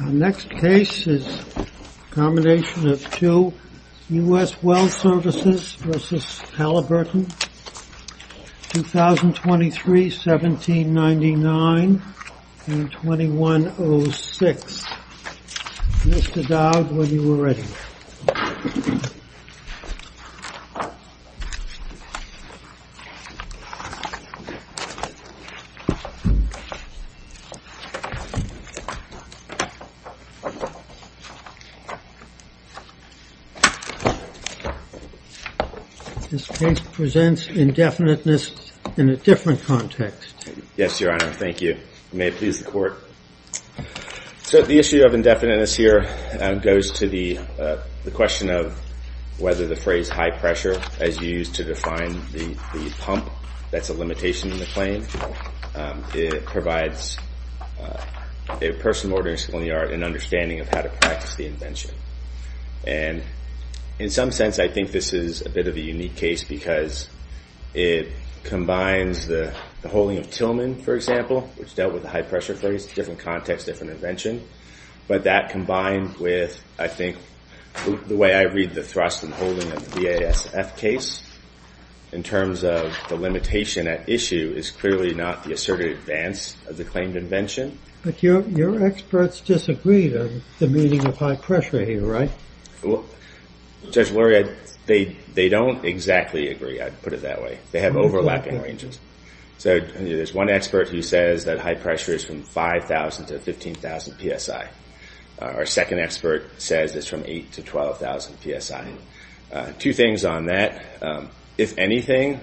Our next case is a combination of two U.S. Well Services v. Halliburton, 2023, 1799 and 2106. Mr. Dowd, when you are ready. This case presents indefiniteness in a different context. Yes, Your Honor. Thank you. May it please the court. So the issue of indefiniteness here goes to the question of whether the phrase high pressure, as you used to define the pump, that's a limitation in the claim. It provides a person ordering a saloon yard an understanding of how to practice the invention. And in some sense, I think this is a bit of a unique case because it combines the holding of Tillman, for example, which dealt with the high pressure phrase, different context, different invention. But that combined with, I think, the way I read the thrust and holding of the VASF case in terms of the limitation at issue is clearly not the asserted advance of the claimed invention. But your experts disagree on the meaning of high pressure here, right? Judge Luria, they don't exactly agree. I'd put it that way. They have overlapping ranges. So there's one expert who says that high pressure is from 5,000 to 15,000 PSI. Our second expert says it's from 8,000 to 12,000 PSI. Two things on that. If anything,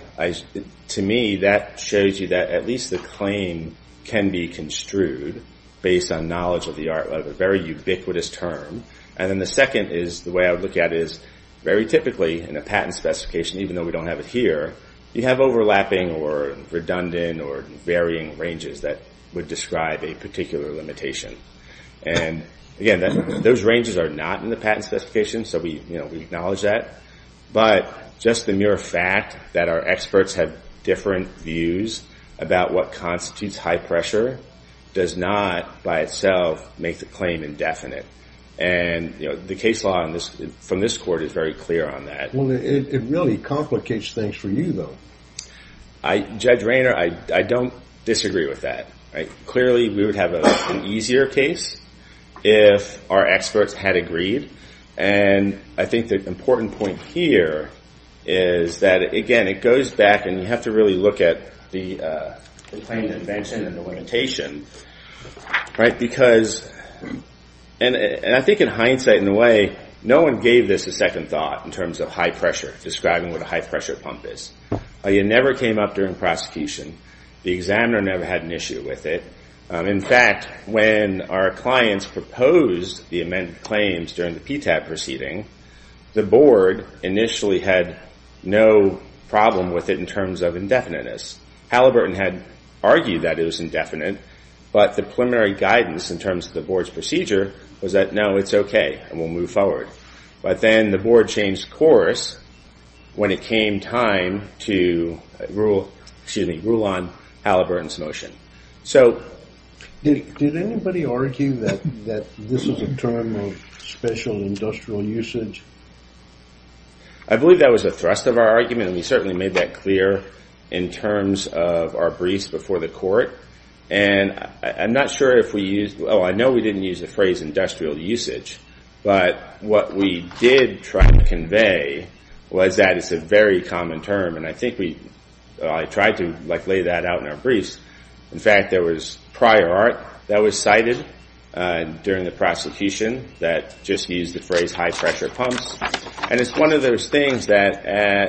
to me, that shows you that at least the claim can be construed based on knowledge of the art of a very ubiquitous term. And then the second is the way I would look at it is very typically in a patent specification, even though we don't have it here, you have overlapping or redundant or varying ranges that would describe a particular limitation. And again, those ranges are not in the patent specification, so we acknowledge that. But just the mere fact that our experts have different views about what constitutes high pressure does not by itself make the claim indefinite. And the case law from this court is very clear on that. Well, it really complicates things for you, though. Judge Rayner, I don't disagree with that. Clearly, we would have an easier case if our experts had agreed. And I think the important point here is that, again, it goes back and you have to really look at the claim to invention and the limitation. And I think in hindsight, in a way, no one gave this a second thought in terms of high pressure, describing what a high pressure pump is. It never came up during prosecution. The examiner never had an issue with it. In fact, when our clients proposed the amended claims during the PTAP proceeding, the board initially had no problem with it in terms of indefiniteness. Halliburton had argued that it was indefinite, but the preliminary guidance in terms of the board's procedure was that, no, it's okay and we'll move forward. But then the board changed course when it came time to rule on Halliburton's motion. So did anybody argue that this is a term of special industrial usage? I believe that was a thrust of our argument, and we certainly made that clear in terms of our briefs before the court. And I'm not sure if we used – oh, I know we didn't use the phrase industrial usage, but what we did try to convey was that it's a very common term. And I think we – I tried to lay that out in our briefs. In fact, there was prior art that was cited during the prosecution that just used the phrase high pressure pumps. And it's one of those things that,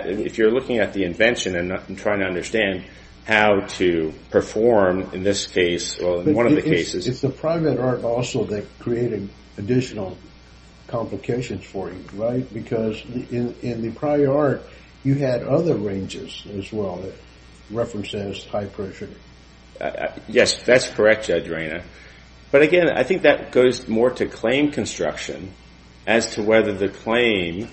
if you're looking at the invention and trying to understand how to perform in this case – well, in one of the cases – But it's the prior art also that created additional complications for you, right? Because in the prior art, you had other ranges as well that referenced as high pressure. Yes, that's correct, Judge Raina. But again, I think that goes more to claim construction as to whether the claim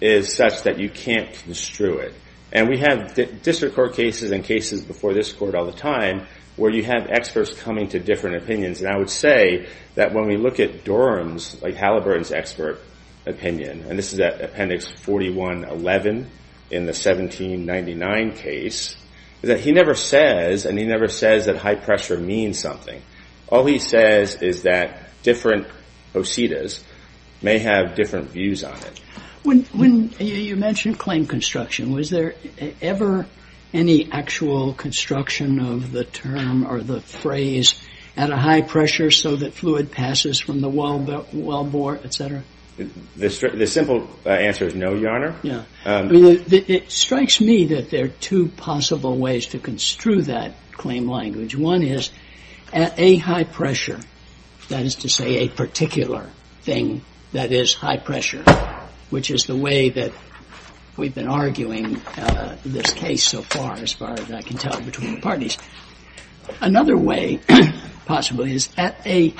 is such that you can't construe it. And we have district court cases and cases before this court all the time where you have experts coming to different opinions. And I would say that when we look at Durham's, like Halliburton's expert opinion – and this is at Appendix 41-11 in the 1799 case – is that he never says – and he never says that high pressure means something. All he says is that different oscetas may have different views on it. When you mentioned claim construction, was there ever any actual construction of the term or the phrase at a high pressure so that fluid passes from the wellbore, et cetera? The simple answer is no, Your Honor. I mean, it strikes me that there are two possible ways to construe that claim language. One is at a high pressure, that is to say a particular thing that is high pressure, which is the way that we've been arguing this case so far as far as I can tell between the parties. Another way possibly is at a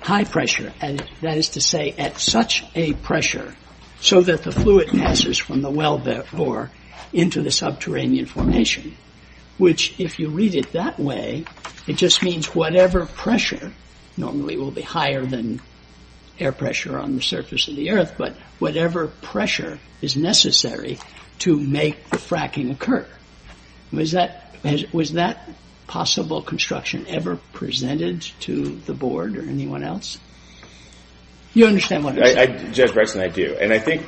high pressure, that is to say at such a pressure so that the fluid passes from the wellbore into the subterranean formation, which if you read it that way, it just means whatever pressure – normally it will be higher than air pressure on the surface of the earth – but whatever pressure is necessary to make the fracking occur. Was that possible construction ever presented to the Board or anyone else? You understand what I'm saying. Judge Bretson, I do. And I think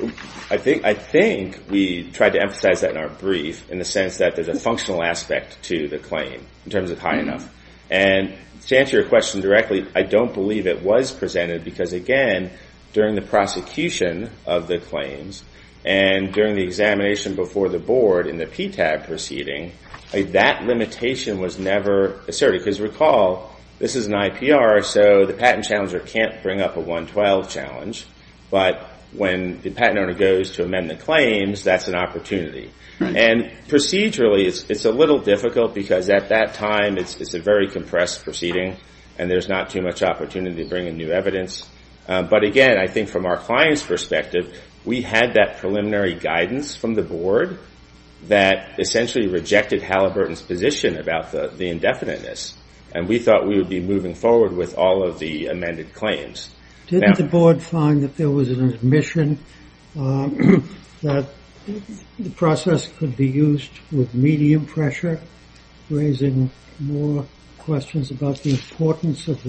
we tried to emphasize that in our brief in the sense that there's a functional aspect to the claim in terms of high enough. And to answer your question directly, I don't believe it was presented because, again, during the prosecution of the claims and during the examination before the Board in the PTAG proceeding, that limitation was never asserted. Because recall, this is an IPR, so the patent challenger can't bring up a 112 challenge. But when the patent owner goes to amend the claims, that's an opportunity. And procedurally, it's a little difficult because at that time it's a very compressed proceeding and there's not too much opportunity to bring in new evidence. But again, I think from our client's perspective, we had that preliminary guidance from the Board that essentially rejected Halliburton's position about the indefiniteness. And we thought we would be moving forward with all of the amended claims. Didn't the Board find that there was an admission that the process could be used with medium pressure, raising more questions about the importance of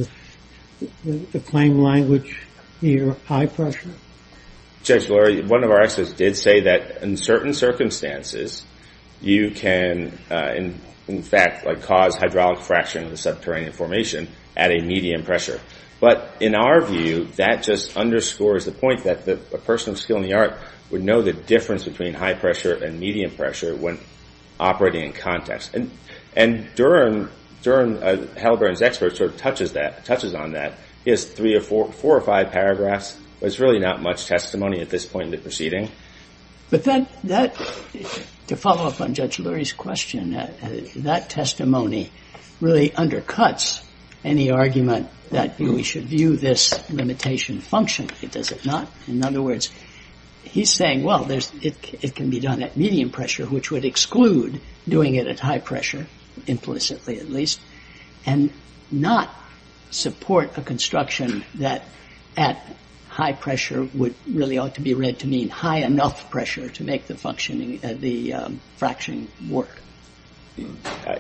the claim language here, high pressure? Judge, one of our experts did say that in certain circumstances, you can, in fact, cause hydraulic fracturing of the subterranean formation at a medium pressure. But in our view, that just underscores the point that a person of skill in the art would know the difference between high pressure and medium pressure when operating in context. And Durham, Halliburton's expert, sort of touches on that. He has four or five paragraphs. There's really not much testimony at this point in the proceeding. But to follow up on Judge Lurie's question, that testimony really undercuts any argument that we should view this limitation function. Does it not? In other words, he's saying, well, it can be done at medium pressure, which would exclude doing it at high pressure, implicitly at least, and not support a construction that at high pressure would really ought to be read to mean high enough pressure to make the fracturing work.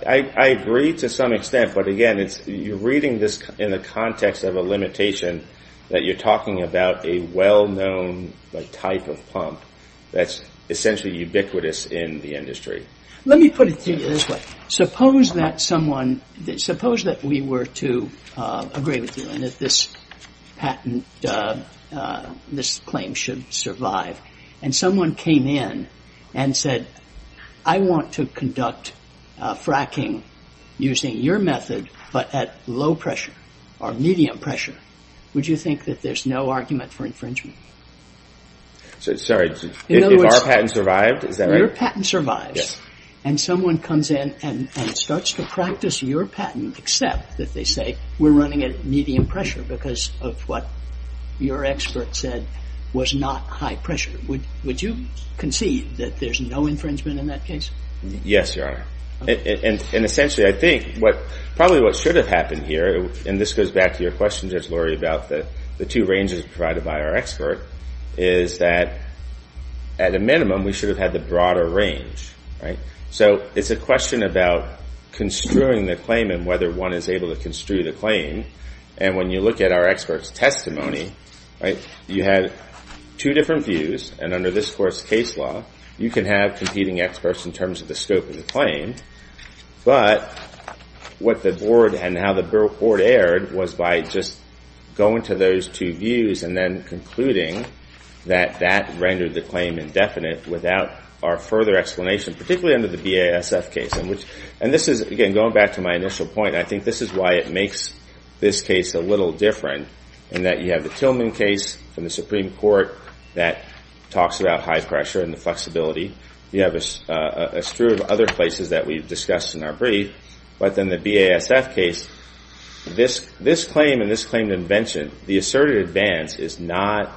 I agree to some extent. But again, you're reading this in the context of a limitation that you're talking about a well-known type of pump that's essentially ubiquitous in the industry. Let me put it to you this way. Suppose that we were to agree with you and that this patent, this claim should survive, and someone came in and said, I want to conduct fracking using your method but at low pressure or medium pressure, would you think that there's no argument for infringement? Sorry. If our patent survived, is that right? Your patent survives. And someone comes in and starts to practice your patent except that they say we're running at medium pressure because of what your expert said was not high pressure. Would you concede that there's no infringement in that case? Yes, Your Honor. Essentially, I think probably what should have happened here, and this goes back to your question, Judge Laurie, about the two ranges provided by our expert, is that at a minimum we should have had the broader range. So it's a question about construing the claim and whether one is able to construe the claim. And when you look at our expert's testimony, you had two different views. And under this Court's case law, you can have competing experts in terms of the scope of the claim. But what the Board and how the Board erred was by just going to those two views and then concluding that that rendered the claim indefinite without our further explanation, particularly under the BASF case. And this is, again, going back to my initial point, I think this is why it makes this case a little different in that you have the Tillman case from the Supreme Court that talks about high pressure and the flexibility. You have a strew of other places that we've discussed in our brief. But in the BASF case, this claim and this claimed invention, the asserted advance is not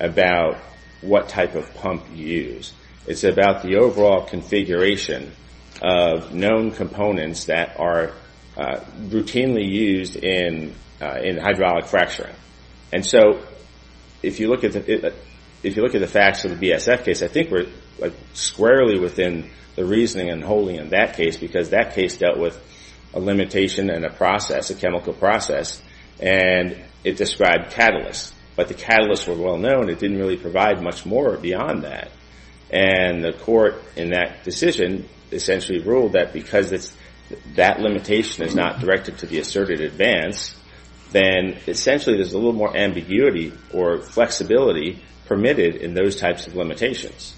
about what type of pump you use. It's about the overall configuration of known components that are routinely used in hydraulic fracturing. And so if you look at the facts of the BASF case, I think we're squarely within the reasoning and holding in that case because that case dealt with a limitation and a process, a chemical process, and it described catalysts. But the catalysts were well known. It didn't really provide much more beyond that. And the Court in that decision essentially ruled that because that limitation is not directed to the asserted advance, then essentially there's a little more ambiguity or flexibility permitted in those types of limitations.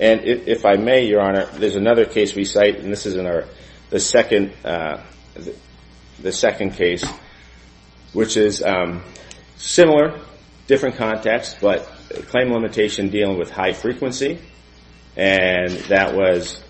And if I may, Your Honor, there's another case we cite, and this is in the second case, which is similar, different context, but a claim limitation dealing with high frequency. And that was...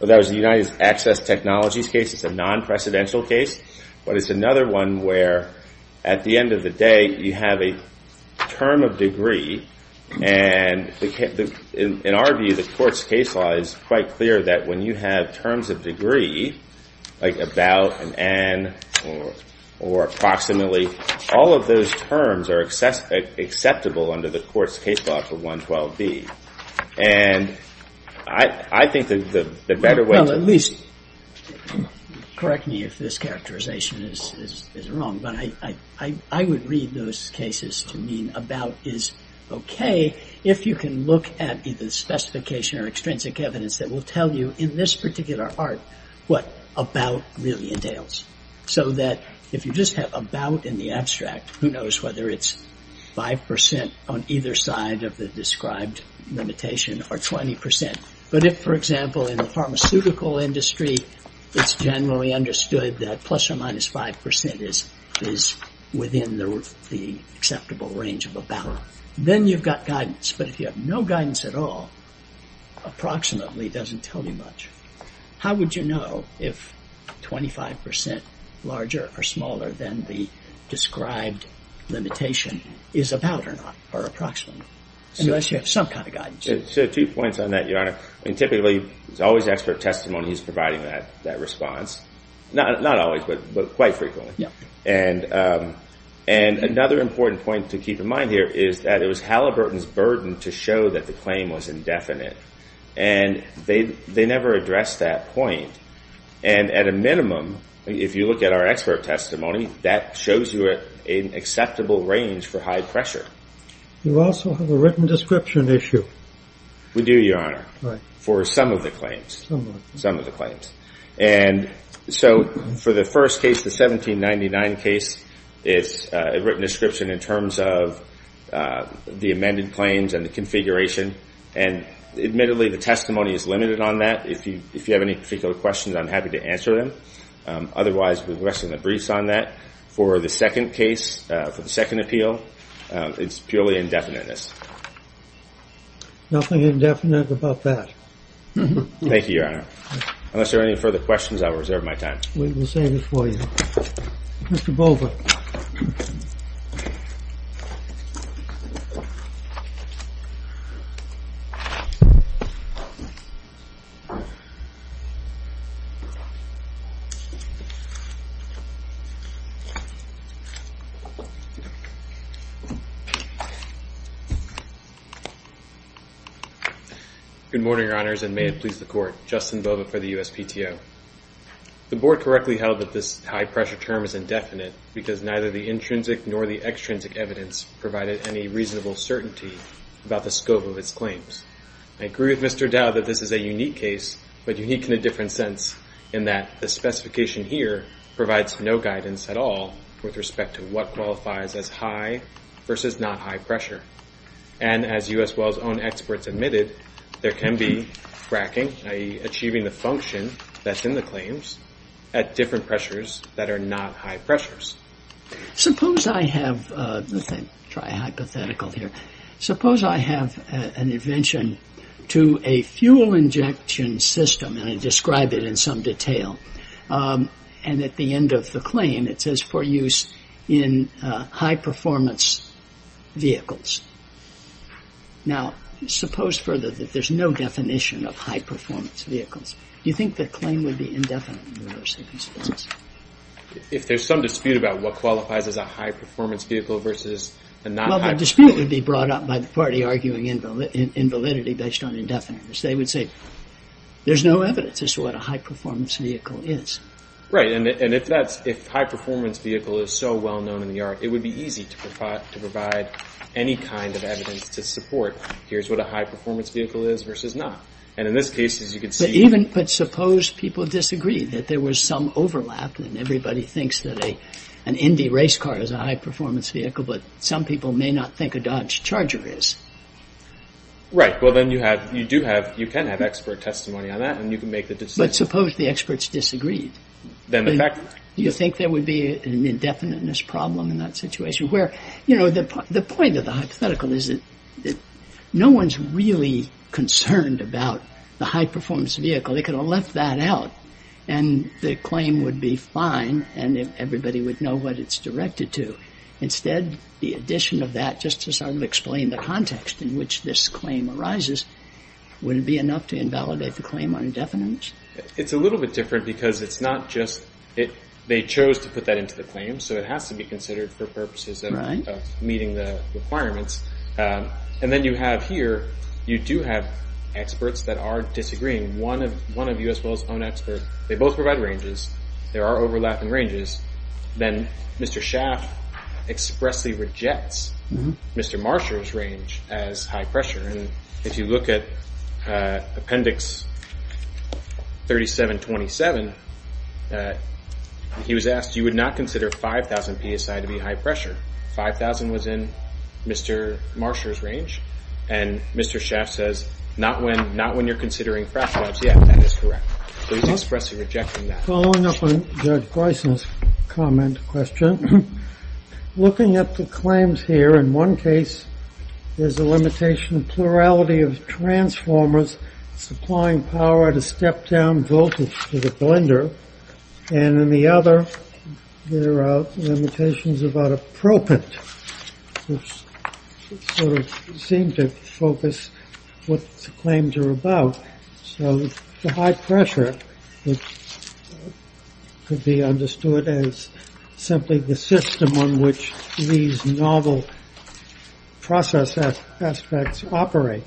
That was the United Access Technologies case. It's a non-precedential case, but it's another one where at the end of the day you have a term of degree. And in our view, the Court's case law is quite clear that when you have terms of degree, like about, and an, or approximately, all of those terms are acceptable under the Court's case law for 112B. And I think that the better way to... Well, at least correct me if this characterization is wrong, but I would read those cases to mean about is okay if you can look at either the specification or extrinsic evidence that will tell you in this particular art what about really entails. So that if you just have about in the abstract, who knows whether it's 5% on either side of the described limitation, or 20%. But if, for example, in the pharmaceutical industry, it's generally understood that plus or minus 5% is within the acceptable range of about. Then you've got guidance. But if you have no guidance at all, approximately doesn't tell you much. How would you know if 25% larger or smaller than the described limitation is about or not, or approximately? Unless you have some kind of guidance. So two points on that, Your Honor. Typically, there's always expert testimony that's providing that response. Not always, but quite frequently. And another important point to keep in mind here is that it was Halliburton's burden to show that the claim was indefinite. And they never addressed that point. And at a minimum, if you look at our expert testimony, that shows you an acceptable range for high pressure. You also have a written description issue. We do, Your Honor. Right. For some of the claims. Some of them. Some of the claims. And so for the first case, the 1799 case, it's a written description in terms of the amended claims and the configuration. And admittedly, the testimony is limited on that. If you have any particular questions, I'm happy to answer them. Otherwise, we rest in the briefs on that. For the second case, for the second appeal, it's purely indefiniteness. Nothing indefinite about that. Thank you, Your Honor. Unless there are any further questions, I'll reserve my time. We will save it for you. Mr. Bova. Good morning, Your Honors, and may it please the Court. Justin Bova for the USPTO. The Board correctly held that this high pressure term is indefinite because neither the intrinsic nor the extrinsic evidence provided any reasonable certainty about the scope of its claims. I agree with Mr. Dow that this is a unique case, but unique in a different sense, in that the specification here provides no guidance at all with respect to what qualifies as high versus not high pressure. And as U.S. Wells' own experts admitted, there can be fracking, i.e., achieving the function that's in the claims at different pressures that are not high pressures. Suppose I have an invention to a fuel injection system, and I describe it in some detail, and at the end of the claim, it says for use in high performance vehicles. Now, suppose further that there's no definition of high performance vehicles. Do you think the claim would be indefinite in those circumstances? If there's some dispute about what qualifies as a high performance vehicle versus a not high performance vehicle. Well, the dispute would be brought up by the party arguing in validity based on indefiniteness. They would say there's no evidence as to what a high performance vehicle is. Right. And if high performance vehicle is so well known in the art, it would be easy to provide any kind of evidence to support here's what a high performance vehicle is versus not. And in this case, as you can see. But even, but suppose people disagree that there was some overlap and everybody thinks that an Indy race car is a high performance vehicle, but some people may not think a Dodge Charger is. Right. Well, then you have, you do have, you can have expert testimony on that, and you can make the decision. But suppose the experts disagreed. Then the fact. Do you think there would be an indefiniteness problem in that situation? Where, you know, the point of the hypothetical is that no one's really concerned about the high performance vehicle. They could have left that out and the claim would be fine and everybody would know what it's directed to. Instead, the addition of that just to sort of explain the context in which this claim arises, would it be enough to invalidate the claim on indefiniteness? It's a little bit different because it's not just, they chose to put that into the claim, so it has to be considered for purposes of meeting the requirements. And then you have here, you do have experts that are disagreeing. One of you as well as one expert, they both provide ranges. There are overlapping ranges. Then Mr. Schaaf expressly rejects Mr. Marsha's range as high pressure. If you look at Appendix 3727, he was asked, you would not consider 5,000 psi to be high pressure. 5,000 was in Mr. Marsha's range. And Mr. Schaaf says, not when you're considering frac labs. Yeah, that is correct. So he's expressly rejecting that. Following up on Judge Gleisen's comment, question, looking at the claims here, in one case, there's a limitation of plurality of transformers supplying power to step down voltage to the blender. And in the other, there are limitations about appropriate, which sort of seem to focus what the claims are about. So the high pressure could be understood as simply the system on which these novel process aspects operate.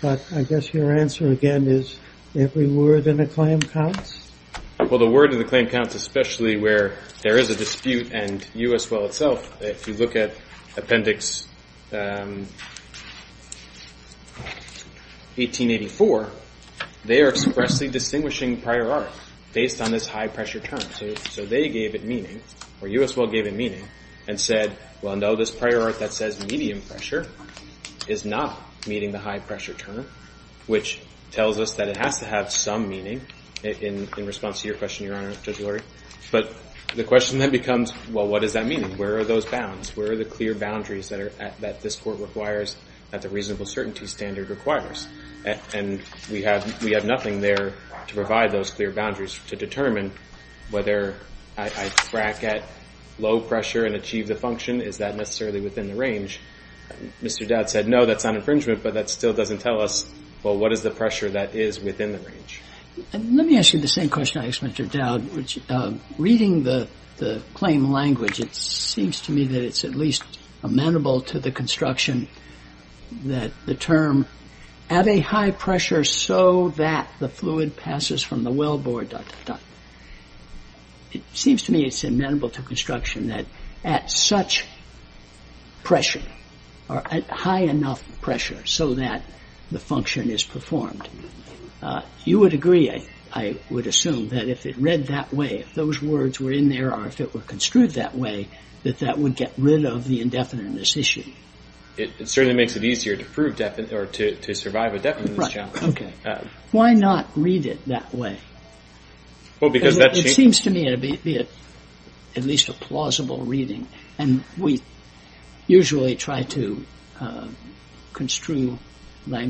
But I guess your answer, again, is every word in the claim counts? Well, the word in the claim counts, especially where there is a dispute and U.S. well itself. If you look at Appendix 1884, they are expressly distinguishing prior art based on this high pressure term. So they gave it meaning, or U.S. well gave it meaning, and said, well, no, this prior art that says medium pressure is not meeting the high pressure term, which tells us that it has to have some meaning in response to your question, Your Honor, Judge Lurie. But the question then becomes, well, what does that mean? Where are those bounds? Where are the clear boundaries that this court requires, that the reasonable certainty standard requires? And we have nothing there to provide those clear boundaries to determine whether I crack at low pressure and achieve the function. Is that necessarily within the range? Mr. Dowd said, no, that's not infringement, but that still doesn't tell us, well, what is the pressure that is within the range? Let me ask you the same question I asked Mr. Dowd. Reading the claim language, it seems to me that it's at least amenable to the construction that the term at a high pressure so that the fluid passes from the wellbore to the duct. It seems to me it's amenable to construction that at such pressure, or at high enough pressure so that the function is performed. You would agree, I would assume, that if it read that way, if those words were in there, or if it were construed that way, that that would get rid of the indefiniteness issue. It certainly makes it easier to survive a definiteness challenge. Why not read it that way? It seems to me it would be at least a plausible reading. We usually try to construe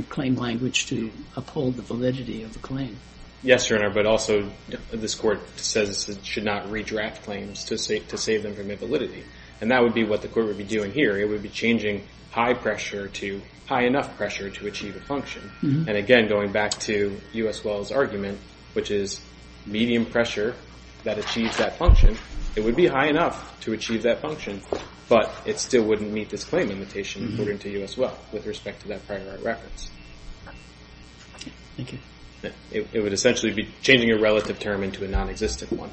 claim language to uphold the validity of the claim. Yes, Your Honor, but also this Court says it should not redraft claims to save them from their validity. That would be what the Court would be doing here. It would be changing high pressure to high enough pressure to achieve a function. Again, going back to U.S. Wells' argument, which is medium pressure that achieves that function, it would be high enough to achieve that function, but it still wouldn't meet this claim limitation according to U.S. Wells with respect to that prior art reference. Thank you. It would essentially be changing a relative term into a nonexistent one.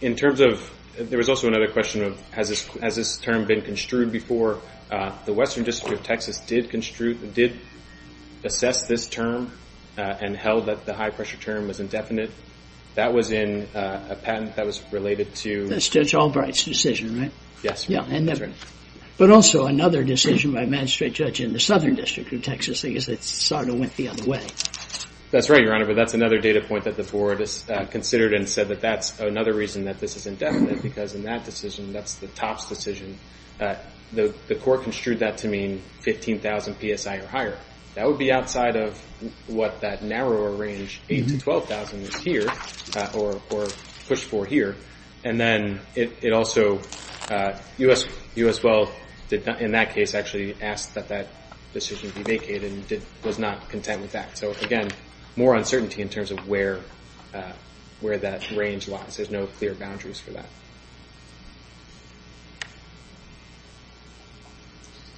In terms of... There was also another question of has this term been construed before? The Western District of Texas did assess this term and held that the high pressure term was indefinite. That was in a patent that was related to... That's Judge Albright's decision, right? Yes. But also another decision by a magistrate judge in the Southern District of Texas, I guess it sort of went the other way. That's right, Your Honor, but that's another data point that the board has considered and said that that's another reason that this is indefinite because in that decision, that's the TOPS decision, the court construed that to mean 15,000 PSI or higher. That would be outside of what that narrower range, 8,000 to 12,000 is here or pushed for here. And then it also... U.S. Wells, in that case, actually asked that that decision be vacated and was not content with that. So again, more uncertainty in terms of where that range lies. There's no clear boundaries for that.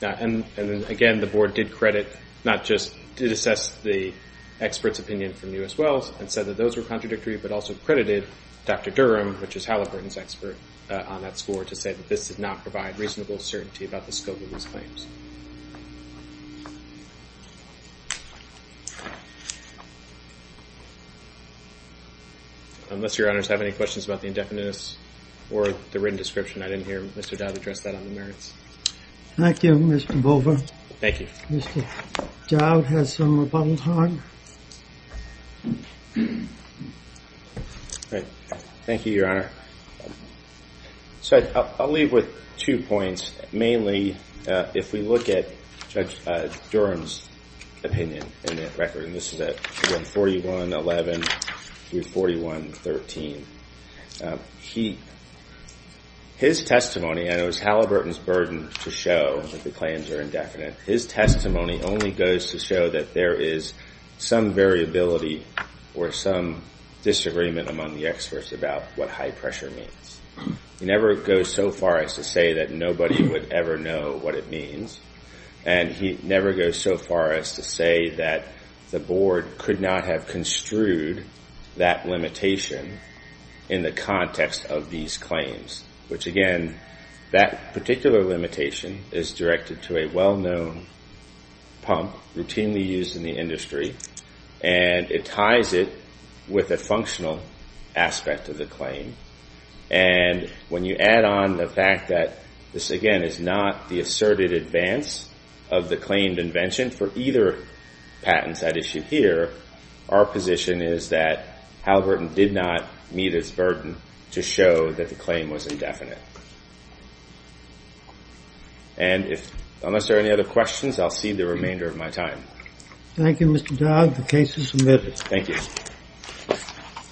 And again, the board did credit... Not just... It assessed the expert's opinion from U.S. Wells and said that those were contradictory but also credited Dr. Durham, which is Halliburton's expert on that score, to say that this did not provide reasonable certainty about the scope of these claims. Thank you. Unless Your Honors have any questions about the indefiniteness or the written description, I didn't hear Mr. Dowd address that on the merits. Thank you, Mr. Bova. Thank you. Mr. Dowd has some rebuttal time. Thank you, Your Honor. So I'll leave with two points. Mainly, if we look at Judge Durham's opinion in that record, and this is at 141-11 through 41-13, his testimony, and it was Halliburton's burden to show that the claims are indefinite, his testimony only goes to show that there is some variability or some disagreement among the experts about what high pressure means. He never goes so far as to say that nobody would ever know what it means, and he never goes so far as to say that the Board could not have construed that limitation in the context of these claims, which, again, that particular limitation is directed to a well-known pump routinely used in the industry, and it ties it with a functional aspect of the claim, and when you add on the fact that this, again, is not the asserted advance of the claimed invention for either patents at issue here, our position is that Halliburton did not meet its burden to show that the claim was indefinite. And unless there are any other questions, I'll cede the remainder of my time. Thank you, Mr. Dowd. The case is submitted. Thank you.